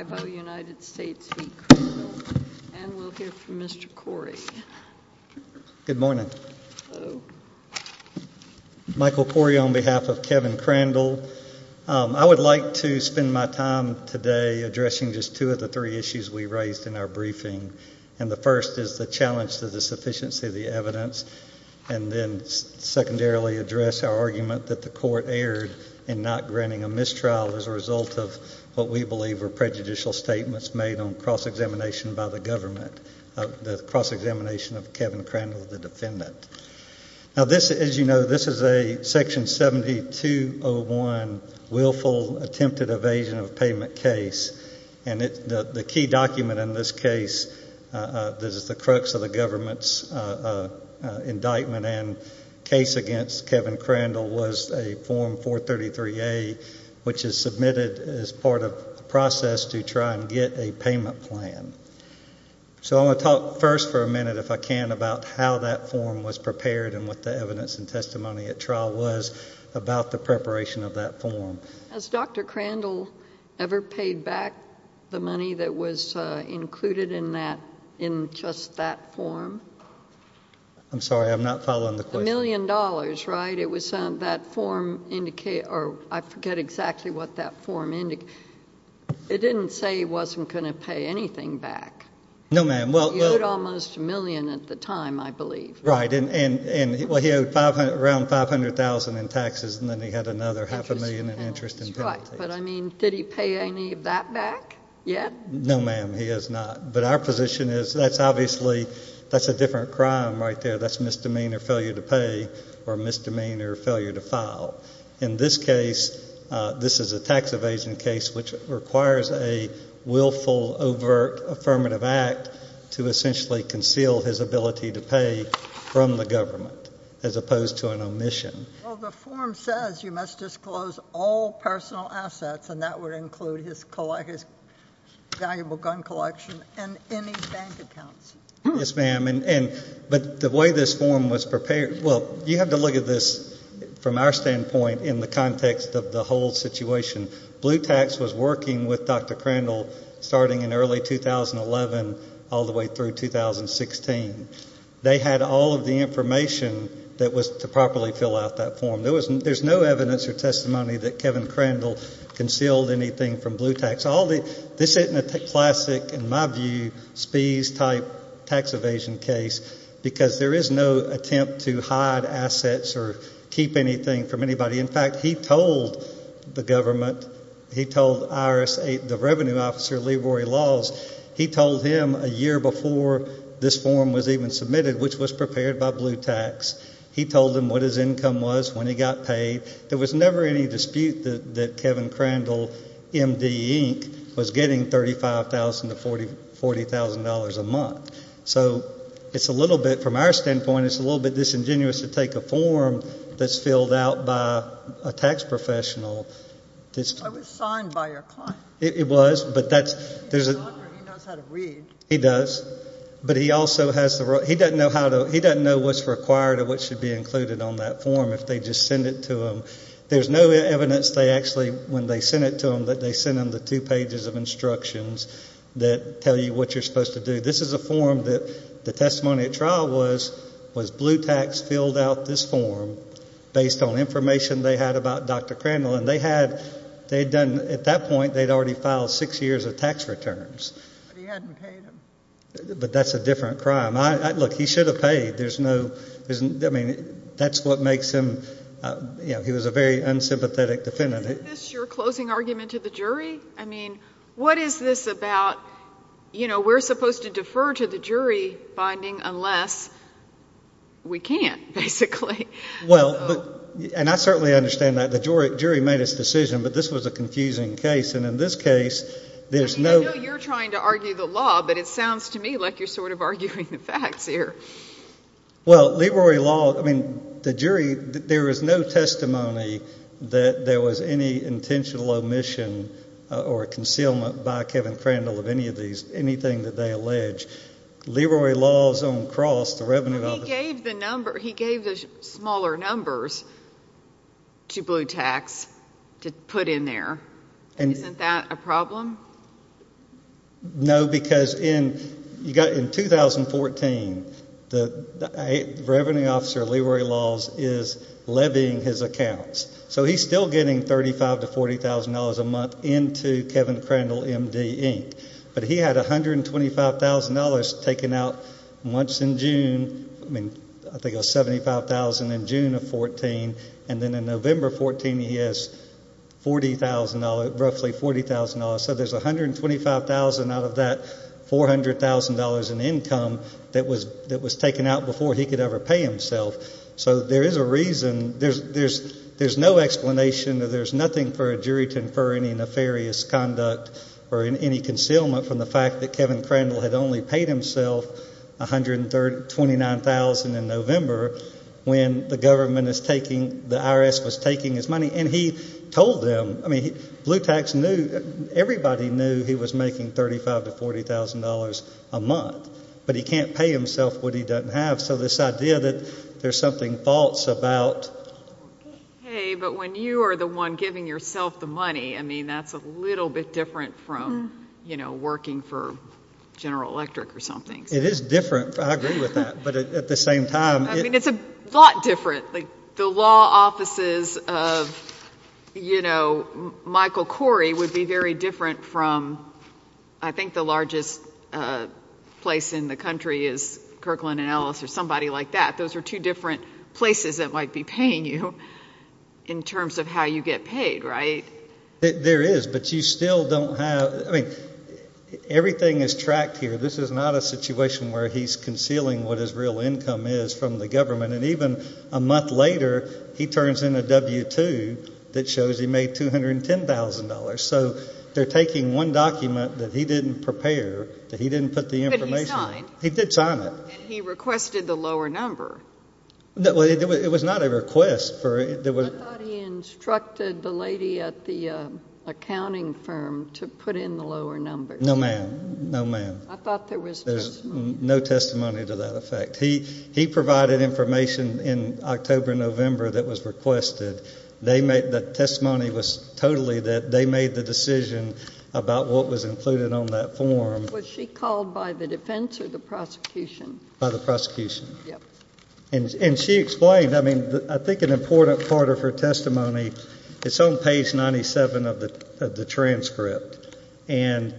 and we'll hear from Mr. Corey. Good morning. Michael Corey on behalf of Kevin Crandell. I would like to spend my time today addressing just two of the three issues we raised in our briefing and the first is the challenge to the sufficiency of the evidence and then secondarily address our argument that the court erred in not granting a mistrial as a result of what we believe were prejudicial statements made on cross-examination by the government, the cross-examination of Kevin Crandell, the defendant. Now this, as you know, this is a section 7201 willful attempted evasion of payment case and the key document in this case, this is the crux of the government's indictment and case against Kevin Crandell was a form 433A which is submitted as part of the process to try and get a payment plan. So I'm going to talk first for a minute, if I can, about how that form was prepared and what the evidence and testimony at trial was about the preparation of that form. Has Dr. Crandell ever paid back the money that was included in that, in just that form? I'm sorry, I'm not following the question. A million dollars, right? It was that form, or I forget exactly what that form indicated. It didn't say he wasn't going to pay anything back. No ma'am. He owed almost a million at the time, I believe. Right, and he owed around $500,000 in taxes and then he had another half a million in interest and penalties. That's right, but I mean, did he pay any of that back yet? No ma'am, he has not. But our that's misdemeanor failure to pay or misdemeanor failure to file. In this case, this is a tax evasion case which requires a willful, overt affirmative act to essentially conceal his ability to pay from the government, as opposed to an omission. Well, the form says you must disclose all personal assets, and that would include his valuable gun collection and any bank accounts. Yes ma'am, but the way this form was prepared, well, you have to look at this from our standpoint in the context of the whole situation. Blue Tax was working with Dr. Crandall starting in early 2011 all the way through 2016. They had all of the information that was to properly fill out that form. There's no evidence or testimony that Kevin Crandall concealed anything from Blue Tax. This isn't a classic, in my view, spees-type tax evasion case, because there is no attempt to hide assets or keep anything from anybody. In fact, he told the government, he told the revenue officer, Leroy Laws, he told him a year before this form was even submitted, which was prepared by Blue Tax, he told him what his income was when he got paid. There was never any dispute that Kevin Crandall was paid $40,000 a month. So, it's a little bit, from our standpoint, it's a little bit disingenuous to take a form that's filled out by a tax professional. I was signed by your client. It was, but that's... He knows how to read. He does, but he also has, he doesn't know how to, he doesn't know what's required or what should be included on that form if they just send it to him. There's no evidence they actually, when they send it to him, that they send him the two pages of instructions that tell you what you're supposed to do. This is a form that the testimony at trial was, was Blue Tax filled out this form based on information they had about Dr. Crandall, and they had, they'd done, at that point, they'd already filed six years of tax returns. But he hadn't paid him. But that's a different crime. I, look, he should have paid. There's no, I mean, that's what makes him, you know, he was a very unsympathetic defendant. Isn't this your closing argument to the jury? I mean, what is this about, you know, we're supposed to defer to the jury finding unless we can't, basically. Well, but, and I certainly understand that. The jury made its decision, but this was a confusing case, and in this case, there's no... I mean, I know you're trying to argue the law, but it sounds to me like you're sort of arguing the facts here. Well, Leroy Law, I mean, the jury, there is no testimony that there was any intentional omission or concealment by Kevin Crandall of any of these, anything that they allege. Leroy Law's own cross, the revenue... Well, he gave the number, he gave the smaller numbers to Blue Tax to put in there. Isn't that a problem? No, because in 2014, the revenue officer of Leroy Law's is levying his accounts, so he's still getting $35,000 to $40,000 a month into Kevin Crandall, M.D., Inc., but he had $125,000 taken out once in June, I mean, I think it was $75,000 in June of 2014, and then in November 2014, he has $40,000, roughly $40,000, so there's $125,000 out of that $400,000 in income that was taken out before he could ever pay himself, so there is a reason, there's no explanation that there's nothing for a jury to infer any nefarious conduct or any concealment from the fact that Kevin Crandall had only paid himself $129,000 in November when the IRS was taking his money, and he told them, I mean, Blue Tax knew, everybody knew he was making $35,000 to $40,000 a month, but he can't pay himself what he doesn't have, so this idea that there's something false about... Hey, but when you are the one giving yourself the money, I mean, that's a little bit different from, you know, working for General Electric or something. It is different, I agree with that, but at the same time... I mean, it's a lot different. The law offices of, you know, Michael Corey would be very different from, I think the largest place in the country is Kirkland & Ellis or somebody like that. Those are two different places that might be paying you in terms of how you get paid, right? There is, but you still don't have, I mean, everything is tracked here. This is not a month later, he turns in a W-2 that shows he made $210,000, so they are taking one document that he didn't prepare, that he didn't put the information on. But he signed. He did sign it. And he requested the lower number. Well, it was not a request for... I thought he instructed the lady at the accounting firm to put in the lower number. No, ma'am. No, ma'am. I thought there was... No testimony to that effect. He provided information in October and November that was requested. The testimony was totally that they made the decision about what was included on that form. Was she called by the defense or the prosecution? By the prosecution. Yes. And she explained, I mean, I think an important part of her testimony, it's on page 97 of the transcript. And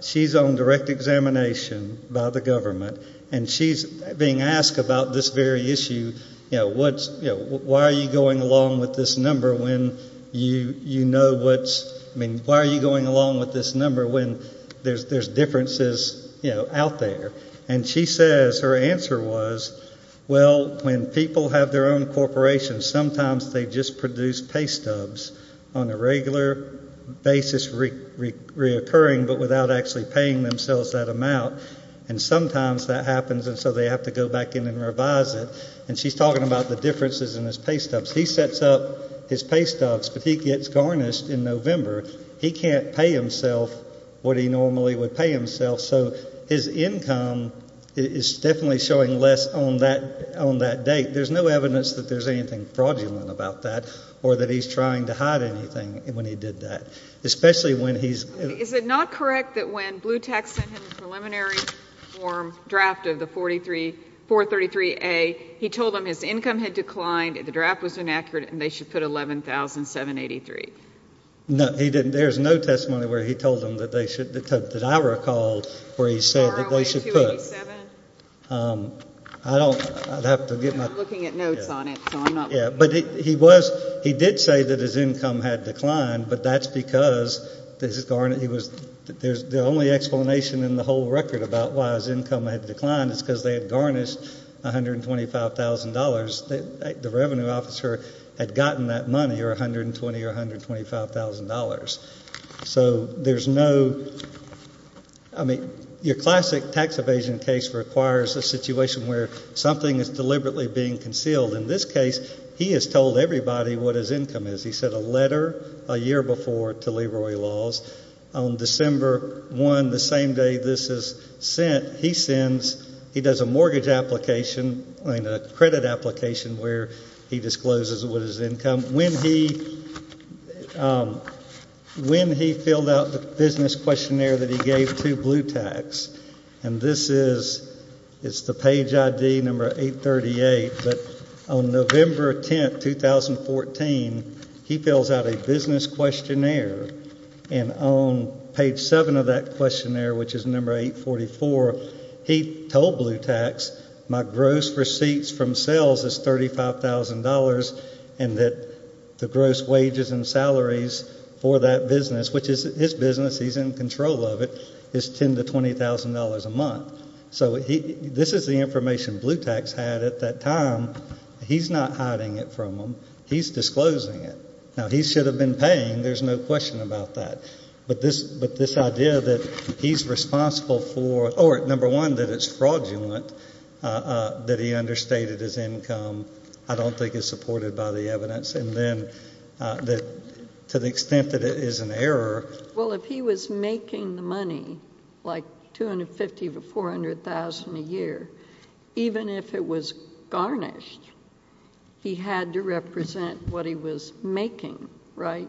she's on direct examination by the government. And she's being asked about this very issue, you know, why are you going along with this number when you know what's... I mean, why are you going along with this number when there's differences, you know, out there? And she says, her answer was, well, when people have their own corporations, sometimes they just produce pay stubs on a regular basis, reoccurring, but without actually paying themselves that amount. And sometimes that happens, and so they have to go back in and revise it. And she's talking about the differences in his pay stubs. He sets up his pay stubs, but he gets garnished in November. He can't pay himself what he normally would pay himself. So his income is definitely showing less on that date. There's no evidence that there's anything fraudulent about that or that he's trying to hide anything when he did that, especially when he's... Is it not correct that when Bluetech sent him the preliminary form, draft of the 433A, he told them his income had declined, the draft was inaccurate, and they should put $11,783? No, he didn't. There's no testimony where he told them that they should, that I recall, where he said that they should put... I'm looking at notes on it, so I'm not... Yeah, but he was, he did say that his income had declined, but that's because the only explanation in the whole record about why his income had declined is because they had garnished $125,000. The revenue officer had gotten that money, or $120,000 or $125,000. So there's no, I mean, your classic tax evasion case requires a situation where something is deliberately being concealed. In this case, he has told everybody what his income is. He sent a letter a year before to Leroy Laws on December 1, the same day this is sent. He sends, he does a mortgage application, I mean, a credit application where he discloses what his income... When he filled out the business questionnaire that he gave to Bluetech, and this is, it's the page ID number 838, but on November 10, 2014, he fills out a business questionnaire, and on page 7 of that questionnaire, which is number 844, he told Bluetech my gross receipts from sales is $35,000 and that the gross wages and salaries for that business, which is his business, he's in control of it, is $10,000 to $20,000 a month. So this is the information Bluetech's had at that time. He's not hiding it from them. He's disclosing it. Now, he should have been paying. There's no question about that. But this idea that he's responsible for, or number one, that it's fraudulent, that he understated his income, I don't think is supported by the evidence. And then to the extent that it is an error... Well, if he was making the money, like $250,000 to $400,000 a year, even if it was garnished, he had to represent what he was making, right?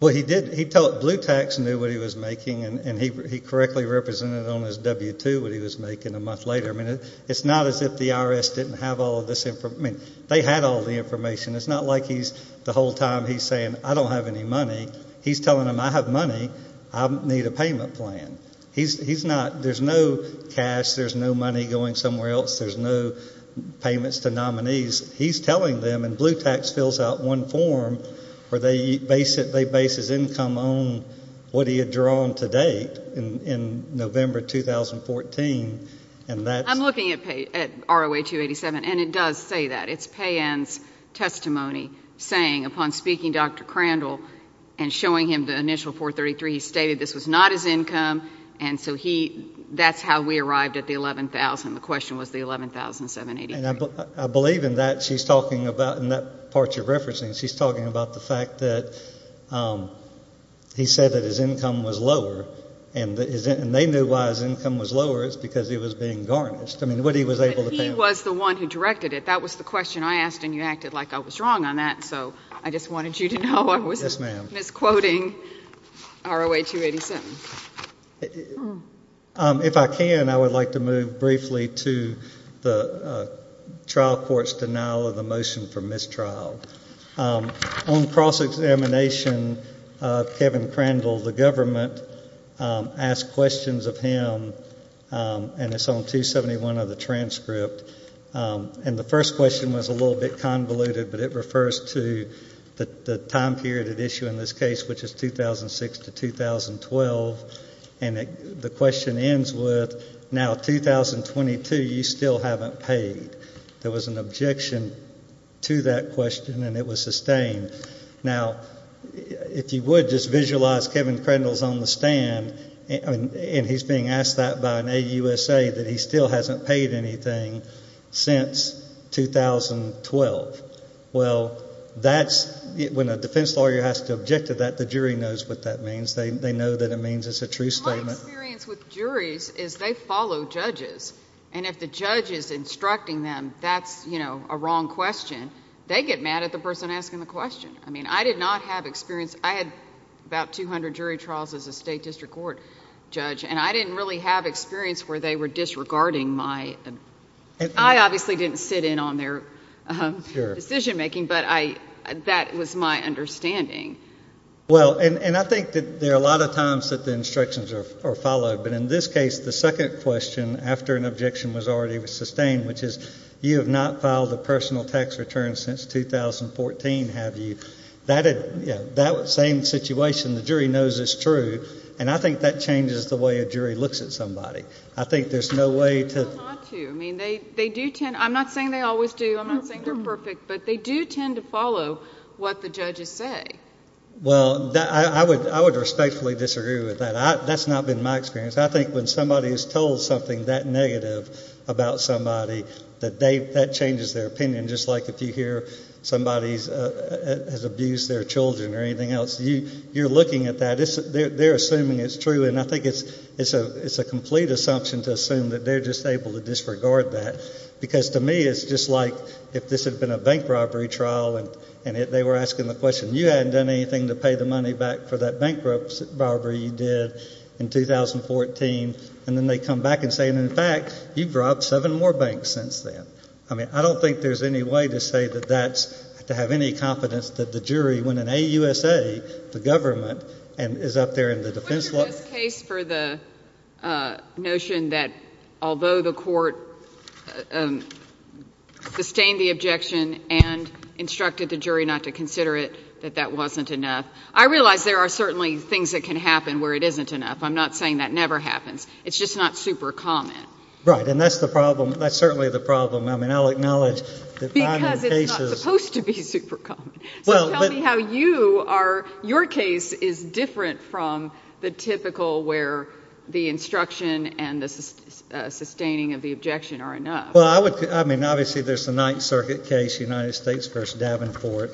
Well, he did. Bluetech knew what he was making, and he correctly represented on his W-2 what he was making a month later. I mean, it's not as if the IRS didn't have all this information. I mean, they had all the information. It's not like the whole time he's saying, I don't have any money. He's telling them, I have money. I need a payment plan. There's no cash. There's no money going somewhere else. There's no payments to nominees. He's telling them, and Bluetech fills out one form where they base his income on what he had drawn to date in November 2014, and that's... I'm looking at ROA 287, and it does say that. It's Payen's testimony saying, upon speaking to Dr. Crandall and showing him the initial 433, he stated this was not his income, and so that's how we arrived at the $11,000. The question was the $11,783. I believe in that. She's talking about, in that part you're referencing, she's talking about the fact that he said that his income was lower, and they knew why his income was lower. It's because it was being garnished. I mean, what he was able to pay... But he was the one who directed it. That was the question I asked, and you acted like I was wrong on that, so I just wanted you to know I wasn't misquoting ROA 287. If I can, I would like to move briefly to the trial court's denial of the motion for mistrial. On cross-examination, Kevin Crandall, the government asked questions of him, and it's on 271 of the transcript. And the first question was a little bit convoluted, but it refers to the time period at issue in this case, which is 2006 to 2012, and the question ends with, now 2022, you still haven't paid. There was an objection to that question, and it was sustained. Now, if you would, just visualize Kevin Crandall's on the stand, and he's being asked that by an AUSA that he still hasn't paid anything since 2012. Well, when a defense lawyer has to object to that, the jury knows what that means. They know that it means it's a true statement. My experience with juries is they follow judges, and if the judge is instructing them that's a wrong question, they get mad at the person asking the question. I mean, I did not have experience. I had about 200 jury trials as a state district court judge, and I didn't really have experience where they were disregarding my... I obviously didn't sit in on their decision making, but that was my understanding. Well, and I think that there are a lot of times that the instructions are followed, but in this case the second question after an objection was already sustained, which is you have not filed a personal tax return since 2014, have you? That same situation, the jury knows it's true, and I think that changes the way a jury looks at somebody. I think there's no way to... Well, not to. I mean, they do tend... I'm not saying they always do. I'm not saying they're perfect, but they do tend to follow what the judges say. Well, I would respectfully disagree with that. That's not been my experience. I think when somebody is told something that negative about somebody, that changes their opinion, just like if you hear somebody has abused their children or anything else. You're looking at that. They're assuming it's true, and I think it's a complete assumption to assume that they're just able to disregard that, because to me it's just like if this had been a bank robbery trial and they were asking the question, you hadn't done anything to pay the money back for that bank robbery you did in 2014, and then they come back and say, in fact, you've robbed seven more banks since then. I mean, I don't think there's any way to say that that's... to have any confidence that the jury, when in a USA, the government, is up there in the defense law. What's your best case for the notion that although the court sustained the objection and instructed the jury not to consider it, that that wasn't enough? I realize there are certainly things that can happen where it isn't enough. I'm not saying that never happens. It's just not super common. Right, and that's the problem. That's certainly the problem. I mean, I'll acknowledge that... Because it's not supposed to be super common. So tell me how you are... your case is different from the typical where the instruction and the sustaining of the objection are enough. Well, I would... I mean, obviously there's the Ninth Circuit case, United States v. Davenport,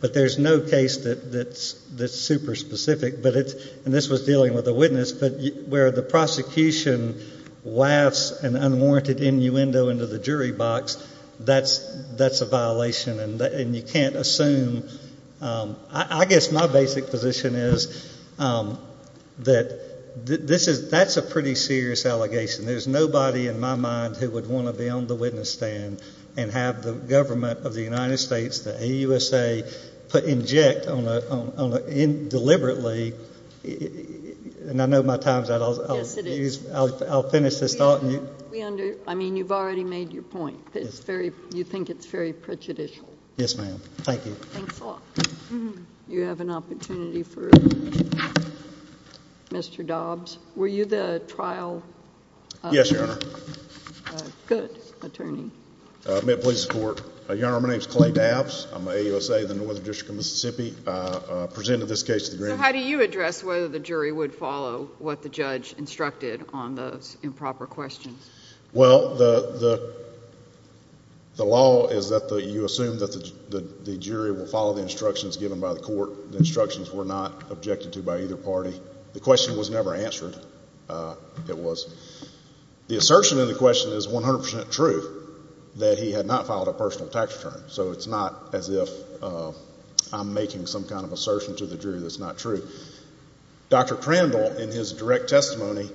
but there's no case that's super specific. And this was dealing with a witness. But where the prosecution wafts an unwarranted innuendo into the jury box, that's a violation. And you can't assume... I guess my basic position is that that's a pretty serious allegation. There's nobody in my mind who would want to be on the witness stand and have the government of the United States, the AUSA, inject deliberately. And I know my time's out. Yes, it is. I'll finish this thought. I mean, you've already made your point. You think it's very prejudicial. Yes, ma'am. Thank you. Thanks a lot. You have an opportunity for Mr. Dobbs. Were you the trial... Yes, Your Honor. Good. Attorney. May it please the Court. Your Honor, my name's Clay Dobbs. I'm with AUSA, the Northern District of Mississippi. I presented this case to the grand jury. So how do you address whether the jury would follow what the judge instructed on those improper questions? Well, the law is that you assume that the jury will follow the instructions given by the court. The instructions were not objected to by either party. The question was never answered. It was... The assertion in the question is 100% true that he had not filed a personal tax return. So it's not as if I'm making some kind of assertion to the jury that's not true. Dr. Crandall, in his direct testimony,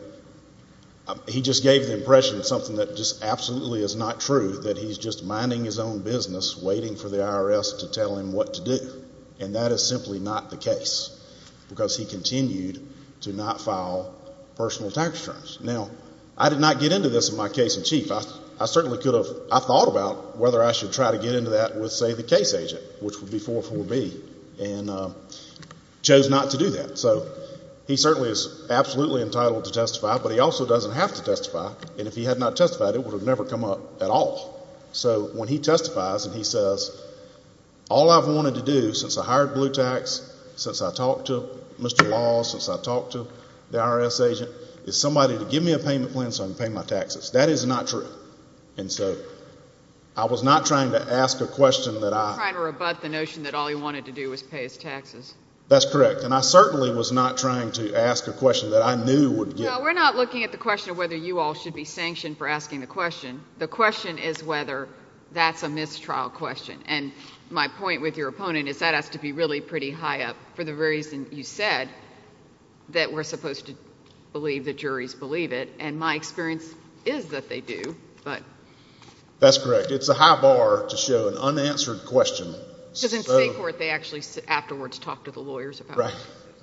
he just gave the impression of something that just absolutely is not true, that he's just minding his own business, waiting for the IRS to tell him what to do. And that is simply not the case. Because he continued to not file personal tax returns. Now, I did not get into this in my case in chief. I certainly could have... I thought about whether I should try to get into that with, say, the case agent, which would be 404B, and chose not to do that. So he certainly is absolutely entitled to testify, but he also doesn't have to testify. And if he had not testified, it would have never come up at all. So when he testifies and he says, all I've wanted to do since I hired Blue Tax, since I talked to Mr. Laws, since I talked to the IRS agent, is somebody to give me a payment plan so I can pay my taxes. That is not true. And so I was not trying to ask a question that I... You were trying to rebut the notion that all he wanted to do was pay his taxes. That's correct. And I certainly was not trying to ask a question that I knew would get... No, we're not looking at the question of whether you all should be sanctioned for asking the question. The question is whether that's a mistrial question. And my point with your opponent is that has to be really pretty high up for the reason you said, that we're supposed to believe the juries believe it. And my experience is that they do, but... That's correct. It's a high bar to show an unanswered question. Because in state court, they actually afterwards talk to the lawyers about it. Right.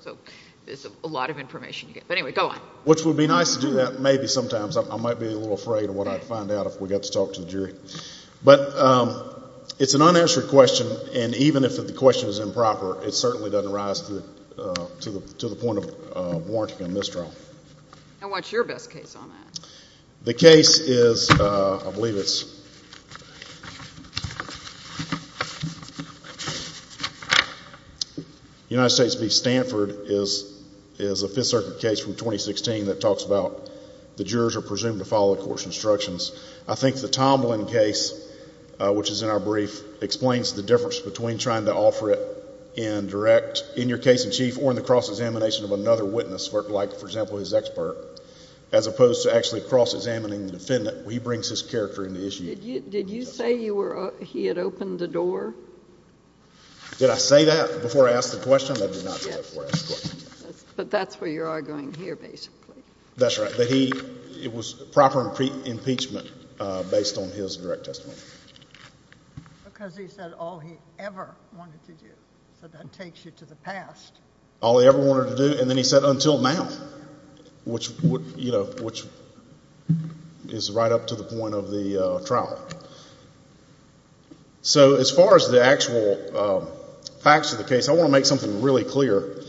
So there's a lot of information here. But anyway, go on. Which would be nice to do that maybe sometimes. I might be a little afraid of what I'd find out if we got to talk to the jury. But it's an unanswered question, and even if the question is improper, it certainly doesn't rise to the point of warranting a mistrial. And what's your best case on that? The case is... I believe it's... United States v. Stanford is a Fifth Circuit case from 2016 that talks about the jurors are presumed to follow the court's instructions. I think the Tomlin case, which is in our brief, explains the difference between trying to offer it in direct, in your case in chief, or in the cross-examination of another witness, like, for example, his expert, as opposed to actually cross-examining the defendant. He brings his character into issue. Did you say he had opened the door? Did I say that before I asked the question? I did not say that before I asked the question. But that's where you're arguing here, basically. That's right. It was proper impeachment based on his direct testimony. Because he said all he ever wanted to do. So that takes you to the past. All he ever wanted to do, and then he said until now, which is right up to the point of the trial. So as far as the actual facts of the case, I want to make something really clear.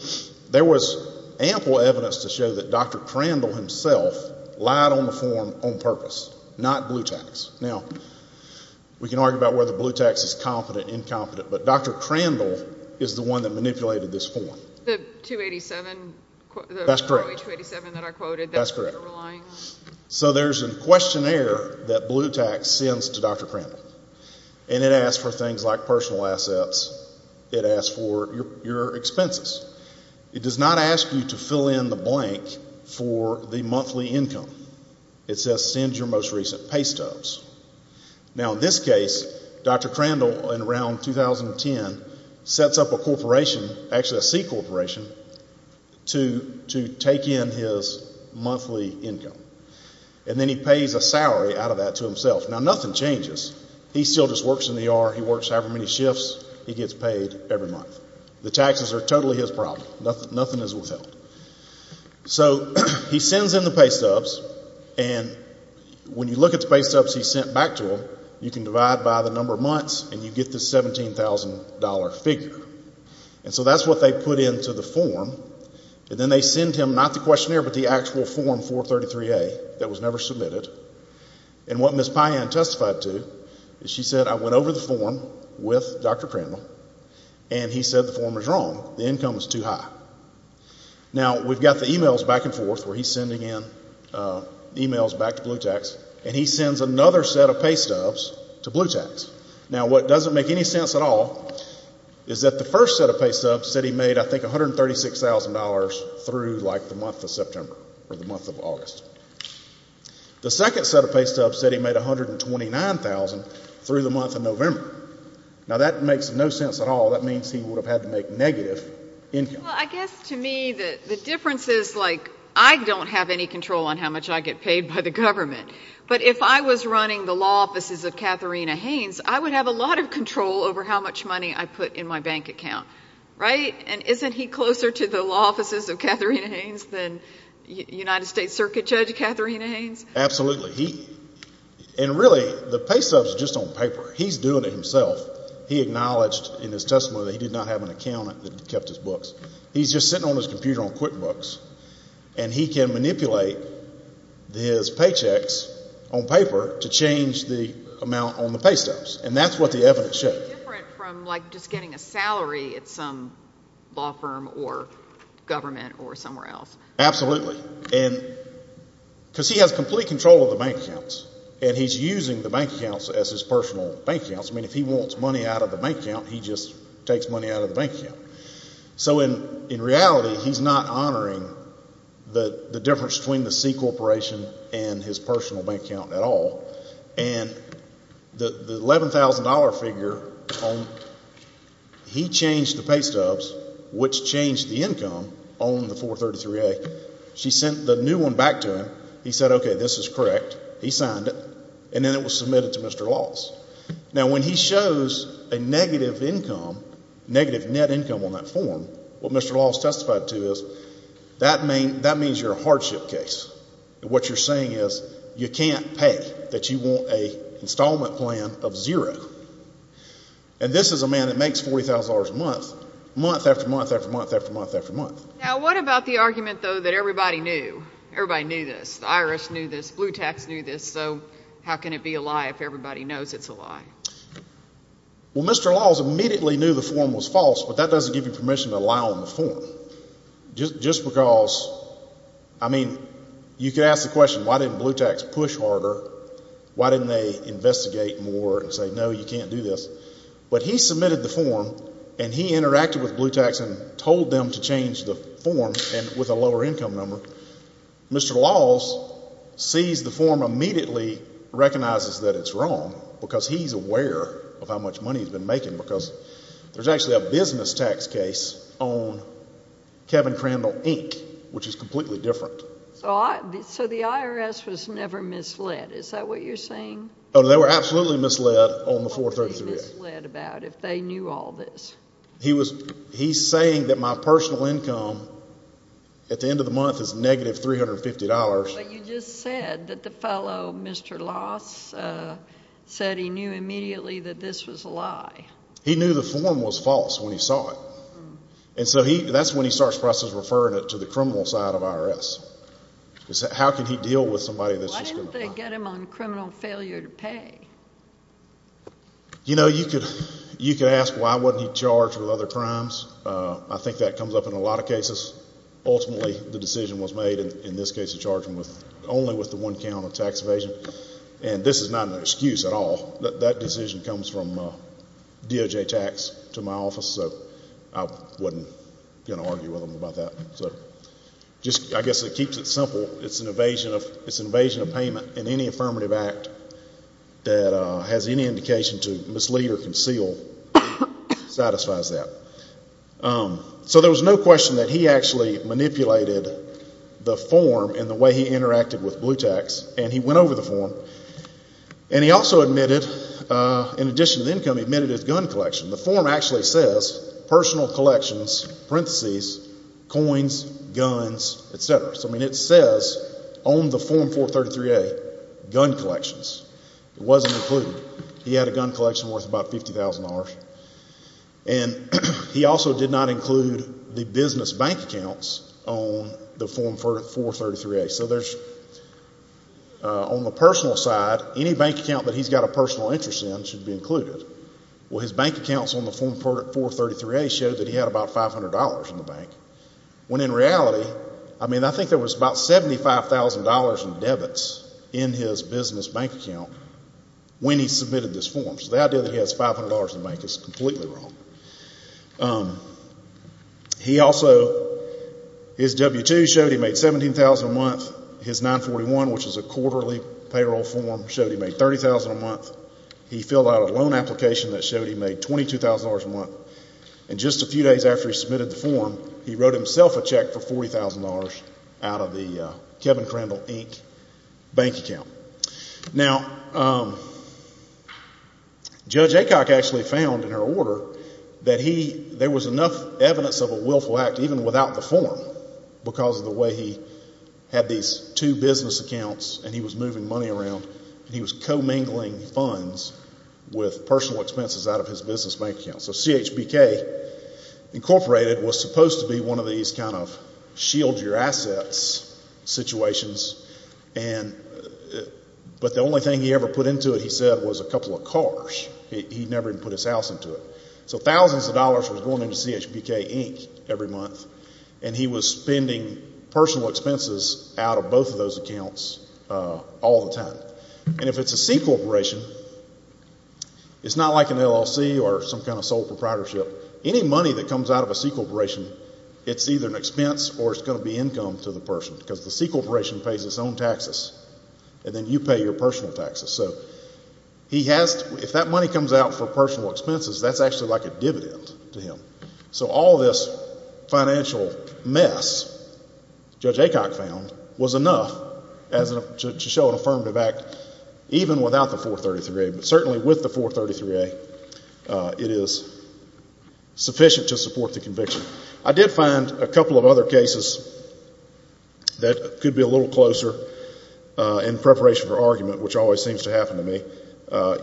There was ample evidence to show that Dr. Crandall himself lied on the form on purpose, not Blutax. Now, we can argue about whether Blutax is competent, incompetent, but Dr. Crandall is the one that manipulated this form. The 287? That's correct. The Roe 287 that I quoted, that's who you're relying on? That's correct. So there's a questionnaire that Blutax sends to Dr. Crandall, and it asks for things like personal assets. It asks for your expenses. It does not ask you to fill in the blank for the monthly income. It says send your most recent pay stubs. Now, in this case, Dr. Crandall, in around 2010, sets up a corporation, actually a C corporation, to take in his monthly income. And then he pays a salary out of that to himself. Now, nothing changes. He still just works in the ER. He works however many shifts. He gets paid every month. The taxes are totally his problem. Nothing is withheld. So he sends in the pay stubs, and when you look at the pay stubs he sent back to him, you can divide by the number of months, and you get this $17,000 figure. And so that's what they put into the form. And then they send him not the questionnaire but the actual form 433A that was never submitted. And what Ms. Payan testified to is she said, I went over the form with Dr. Crandall, and he said the form was wrong. The income was too high. Now, we've got the emails back and forth where he's sending in emails back to Blutax, and he sends another set of pay stubs to Blutax. Now, what doesn't make any sense at all is that the first set of pay stubs said he made, I think, $136,000 through like the month of September or the month of August. The second set of pay stubs said he made $129,000 through the month of November. Now, that makes no sense at all. That means he would have had to make negative income. Well, I guess to me the difference is like I don't have any control on how much I get paid by the government. But if I was running the law offices of Katharina Haynes, I would have a lot of control over how much money I put in my bank account, right? And isn't he closer to the law offices of Katharina Haynes than United States Circuit Judge Katharina Haynes? Absolutely. And really, the pay stubs are just on paper. He's doing it himself. He acknowledged in his testimony that he did not have an accountant that kept his books. He's just sitting on his computer on QuickBooks, and he can manipulate his paychecks on paper to change the amount on the pay stubs. And that's what the evidence shows. It's different from like just getting a salary at some law firm or government or somewhere else. Absolutely. And because he has complete control of the bank accounts, and he's using the bank accounts as his personal bank accounts. I mean, if he wants money out of the bank account, he just takes money out of the bank account. So in reality, he's not honoring the difference between the C Corporation and his personal bank account at all. And the $11,000 figure, he changed the pay stubs, which changed the income on the 433A. She sent the new one back to him. He said, okay, this is correct. He signed it. And then it was submitted to Mr. Laws. Now, when he shows a negative income, negative net income on that form, what Mr. Laws testified to is that means you're a hardship case. What you're saying is you can't pay, that you want an installment plan of zero. And this is a man that makes $40,000 a month, month after month after month after month after month. Now, what about the argument, though, that everybody knew? Everybody knew this. The IRS knew this. Blue Tax knew this. So how can it be a lie if everybody knows it's a lie? Well, Mr. Laws immediately knew the form was false, but that doesn't give you permission to lie on the form. Just because, I mean, you could ask the question, why didn't Blue Tax push harder? Why didn't they investigate more and say, no, you can't do this? But he submitted the form, and he interacted with Blue Tax and told them to change the form with a lower income number. Mr. Laws sees the form immediately, recognizes that it's wrong, because he's aware of how much money he's been making, because there's actually a business tax case on Kevin Crandall, Inc., which is completely different. So the IRS was never misled. Is that what you're saying? Oh, they were absolutely misled on the 433 Act. What would they be misled about if they knew all this? He's saying that my personal income at the end of the month is negative $350. But you just said that the fellow, Mr. Laws, said he knew immediately that this was a lie. He knew the form was false when he saw it. And so that's when he starts to process referring it to the criminal side of IRS. How can he deal with somebody that's just going to lie? You know, you could ask why wasn't he charged with other crimes. I think that comes up in a lot of cases. Ultimately, the decision was made, in this case, to charge him only with the one count of tax evasion. And this is not an excuse at all. That decision comes from DOJ tax to my office, so I wasn't going to argue with him about that. I guess it keeps it simple. It's an evasion of payment. And any affirmative act that has any indication to mislead or conceal satisfies that. So there was no question that he actually manipulated the form and the way he interacted with Blue Tax. And he went over the form. And he also admitted, in addition to the income, he admitted his gun collection. The form actually says personal collections, parentheses, coins, guns, et cetera. So, I mean, it says on the Form 433A, gun collections. It wasn't included. He had a gun collection worth about $50,000. And he also did not include the business bank accounts on the Form 433A. So there's, on the personal side, any bank account that he's got a personal interest in should be included. Well, his bank accounts on the Form 433A showed that he had about $500 in the bank. When in reality, I mean, I think there was about $75,000 in debits in his business bank account when he submitted this form. So the idea that he has $500 in the bank is completely wrong. He also, his W-2 showed he made $17,000 a month. His 941, which is a quarterly payroll form, showed he made $30,000 a month. He filled out a loan application that showed he made $22,000 a month. And just a few days after he submitted the form, he wrote himself a check for $40,000 out of the Kevin Crandall, Inc. bank account. Now, Judge Aycock actually found in her order that there was enough evidence of a willful act even without the form because of the way he had these two business accounts and he was moving money around and he was commingling funds with personal expenses out of his business bank account. So CHBK Incorporated was supposed to be one of these kind of shield your assets situations, but the only thing he ever put into it, he said, was a couple of cars. He never even put his house into it. So thousands of dollars was going into CHBK, Inc. every month, and he was spending personal expenses out of both of those accounts all the time. And if it's a C corporation, it's not like an LLC or some kind of sole proprietorship. Any money that comes out of a C corporation, it's either an expense or it's going to be income to the person because the C corporation pays its own taxes and then you pay your personal taxes. So if that money comes out for personal expenses, that's actually like a dividend to him. So all this financial mess Judge Acock found was enough to show an affirmative act even without the 433A, but certainly with the 433A, it is sufficient to support the conviction. I did find a couple of other cases that could be a little closer in preparation for argument, which always seems to happen to me.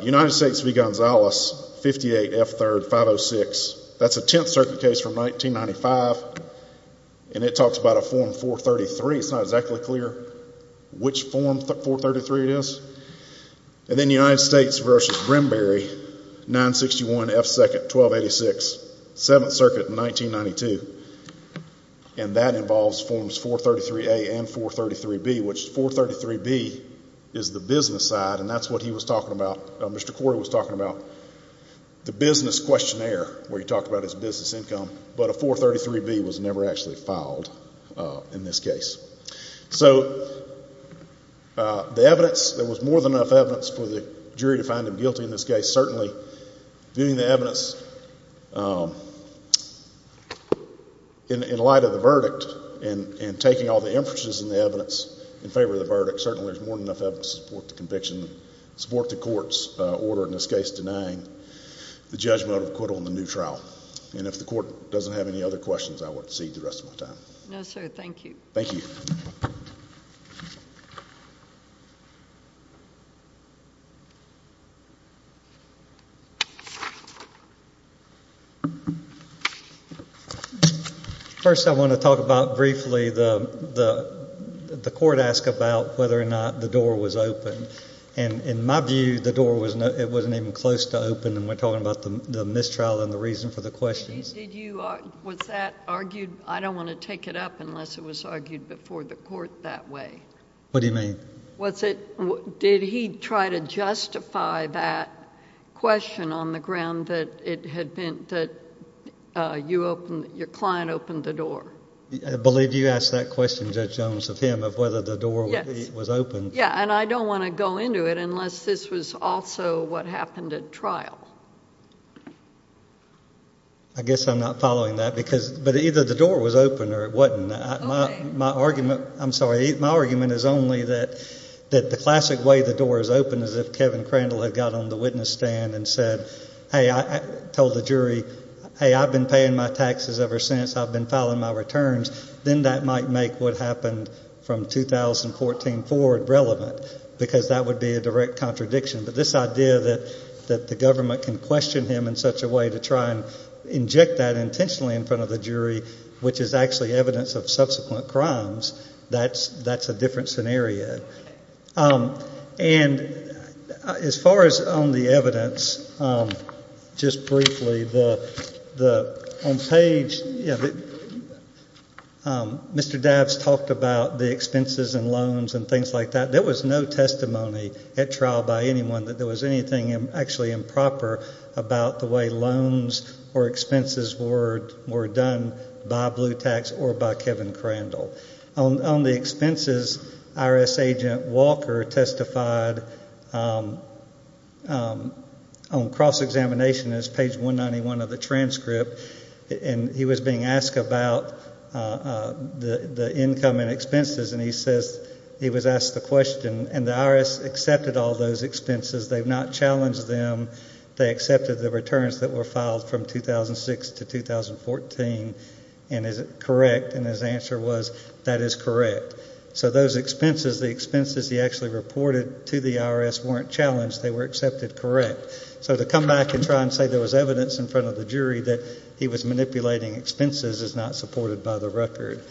United States v. Gonzalez, 58F3rd, 506. That's a 10th Circuit case from 1995, and it talks about a Form 433. It's not exactly clear which Form 433 it is. And then United States v. Brimberry, 961F2nd, 1286, 7th Circuit, 1992. And that involves Forms 433A and 433B, which 433B is the business side, and that's what he was talking about. Mr. Corey was talking about the business questionnaire where he talked about his business income, but a 433B was never actually filed in this case. So the evidence, there was more than enough evidence for the jury to find him guilty in this case. Certainly, viewing the evidence in light of the verdict and taking all the inferences in the evidence in favor of the verdict, certainly there's more than enough evidence to support the conviction, support the court's order in this case denying the judgment of acquittal in the new trial. And if the court doesn't have any other questions, I won't cede the rest of my time. No, sir. Thank you. Thank you. Thank you. First I want to talk about briefly the court asked about whether or not the door was open. And in my view, the door wasn't even close to open, and we're talking about the mistrial and the reason for the questions. Was that argued? I don't want to take it up unless it was argued before the court that way. What do you mean? Did he try to justify that question on the ground that your client opened the door? I believe you asked that question, Judge Jones, of him, of whether the door was open. Yeah, and I don't want to go into it unless this was also what happened at trial. I guess I'm not following that. But either the door was open or it wasn't. My argument is only that the classic way the door is open is if Kevin Crandall had got on the witness stand and told the jury, hey, I've been paying my taxes ever since, I've been filing my returns, then that might make what happened from 2014 forward relevant, because that would be a direct contradiction. But this idea that the government can question him in such a way to try and inject that intentionally in front of the jury, which is actually evidence of subsequent crimes, that's a different scenario. And as far as on the evidence, just briefly, on page Mr. Davs talked about the expenses and loans and things like that. There was no testimony at trial by anyone that there was anything actually improper about the way loans or expenses were done by Blue Tax or by Kevin Crandall. On the expenses, IRS agent Walker testified on cross-examination. It's page 191 of the transcript, and he was being asked about the income and expenses, and he says he was asked the question, and the IRS accepted all those expenses. They've not challenged them. They accepted the returns that were filed from 2006 to 2014, and is it correct? And his answer was, that is correct. So those expenses, the expenses he actually reported to the IRS weren't challenged. They were accepted correct. So to come back and try and say there was evidence in front of the jury that he was manipulating expenses is not supported by the record.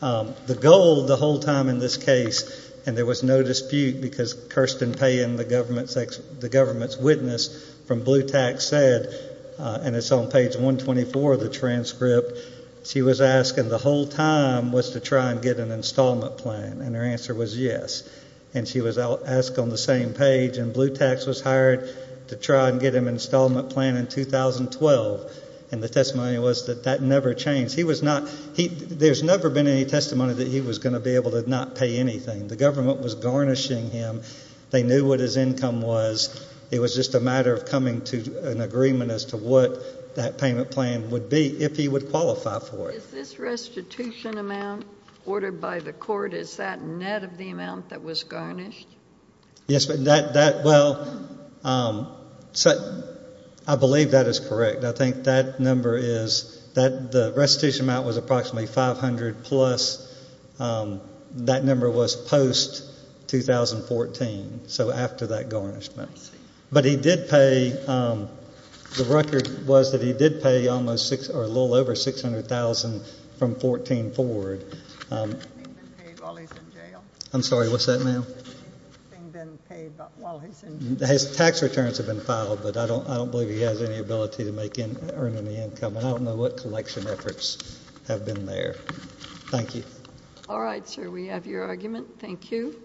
The goal the whole time in this case, and there was no dispute because Kirsten Payne, the government's witness from Blue Tax said, and it's on page 124 of the transcript, she was asking the whole time was to try and get an installment plan, and her answer was yes. And she was asked on the same page, and Blue Tax was hired to try and get him an installment plan in 2012, and the testimony was that that never changed. There's never been any testimony that he was going to be able to not pay anything. The government was garnishing him. They knew what his income was. It was just a matter of coming to an agreement as to what that payment plan would be if he would qualify for it. Is this restitution amount ordered by the court? Is that net of the amount that was garnished? Yes, but that, well, I believe that is correct. I think that number is that the restitution amount was approximately 500 plus. That number was post-2014, so after that garnishment. I see. But he did pay. The record was that he did pay a little over $600,000 from 2014 forward. Has anything been paid while he's in jail? I'm sorry, what's that, ma'am? Has anything been paid while he's in jail? Tax returns have been filed, but I don't believe he has any ability to earn any income, and I don't know what collection efforts have been there. Thank you. All right, sir, we have your argument. Thank you.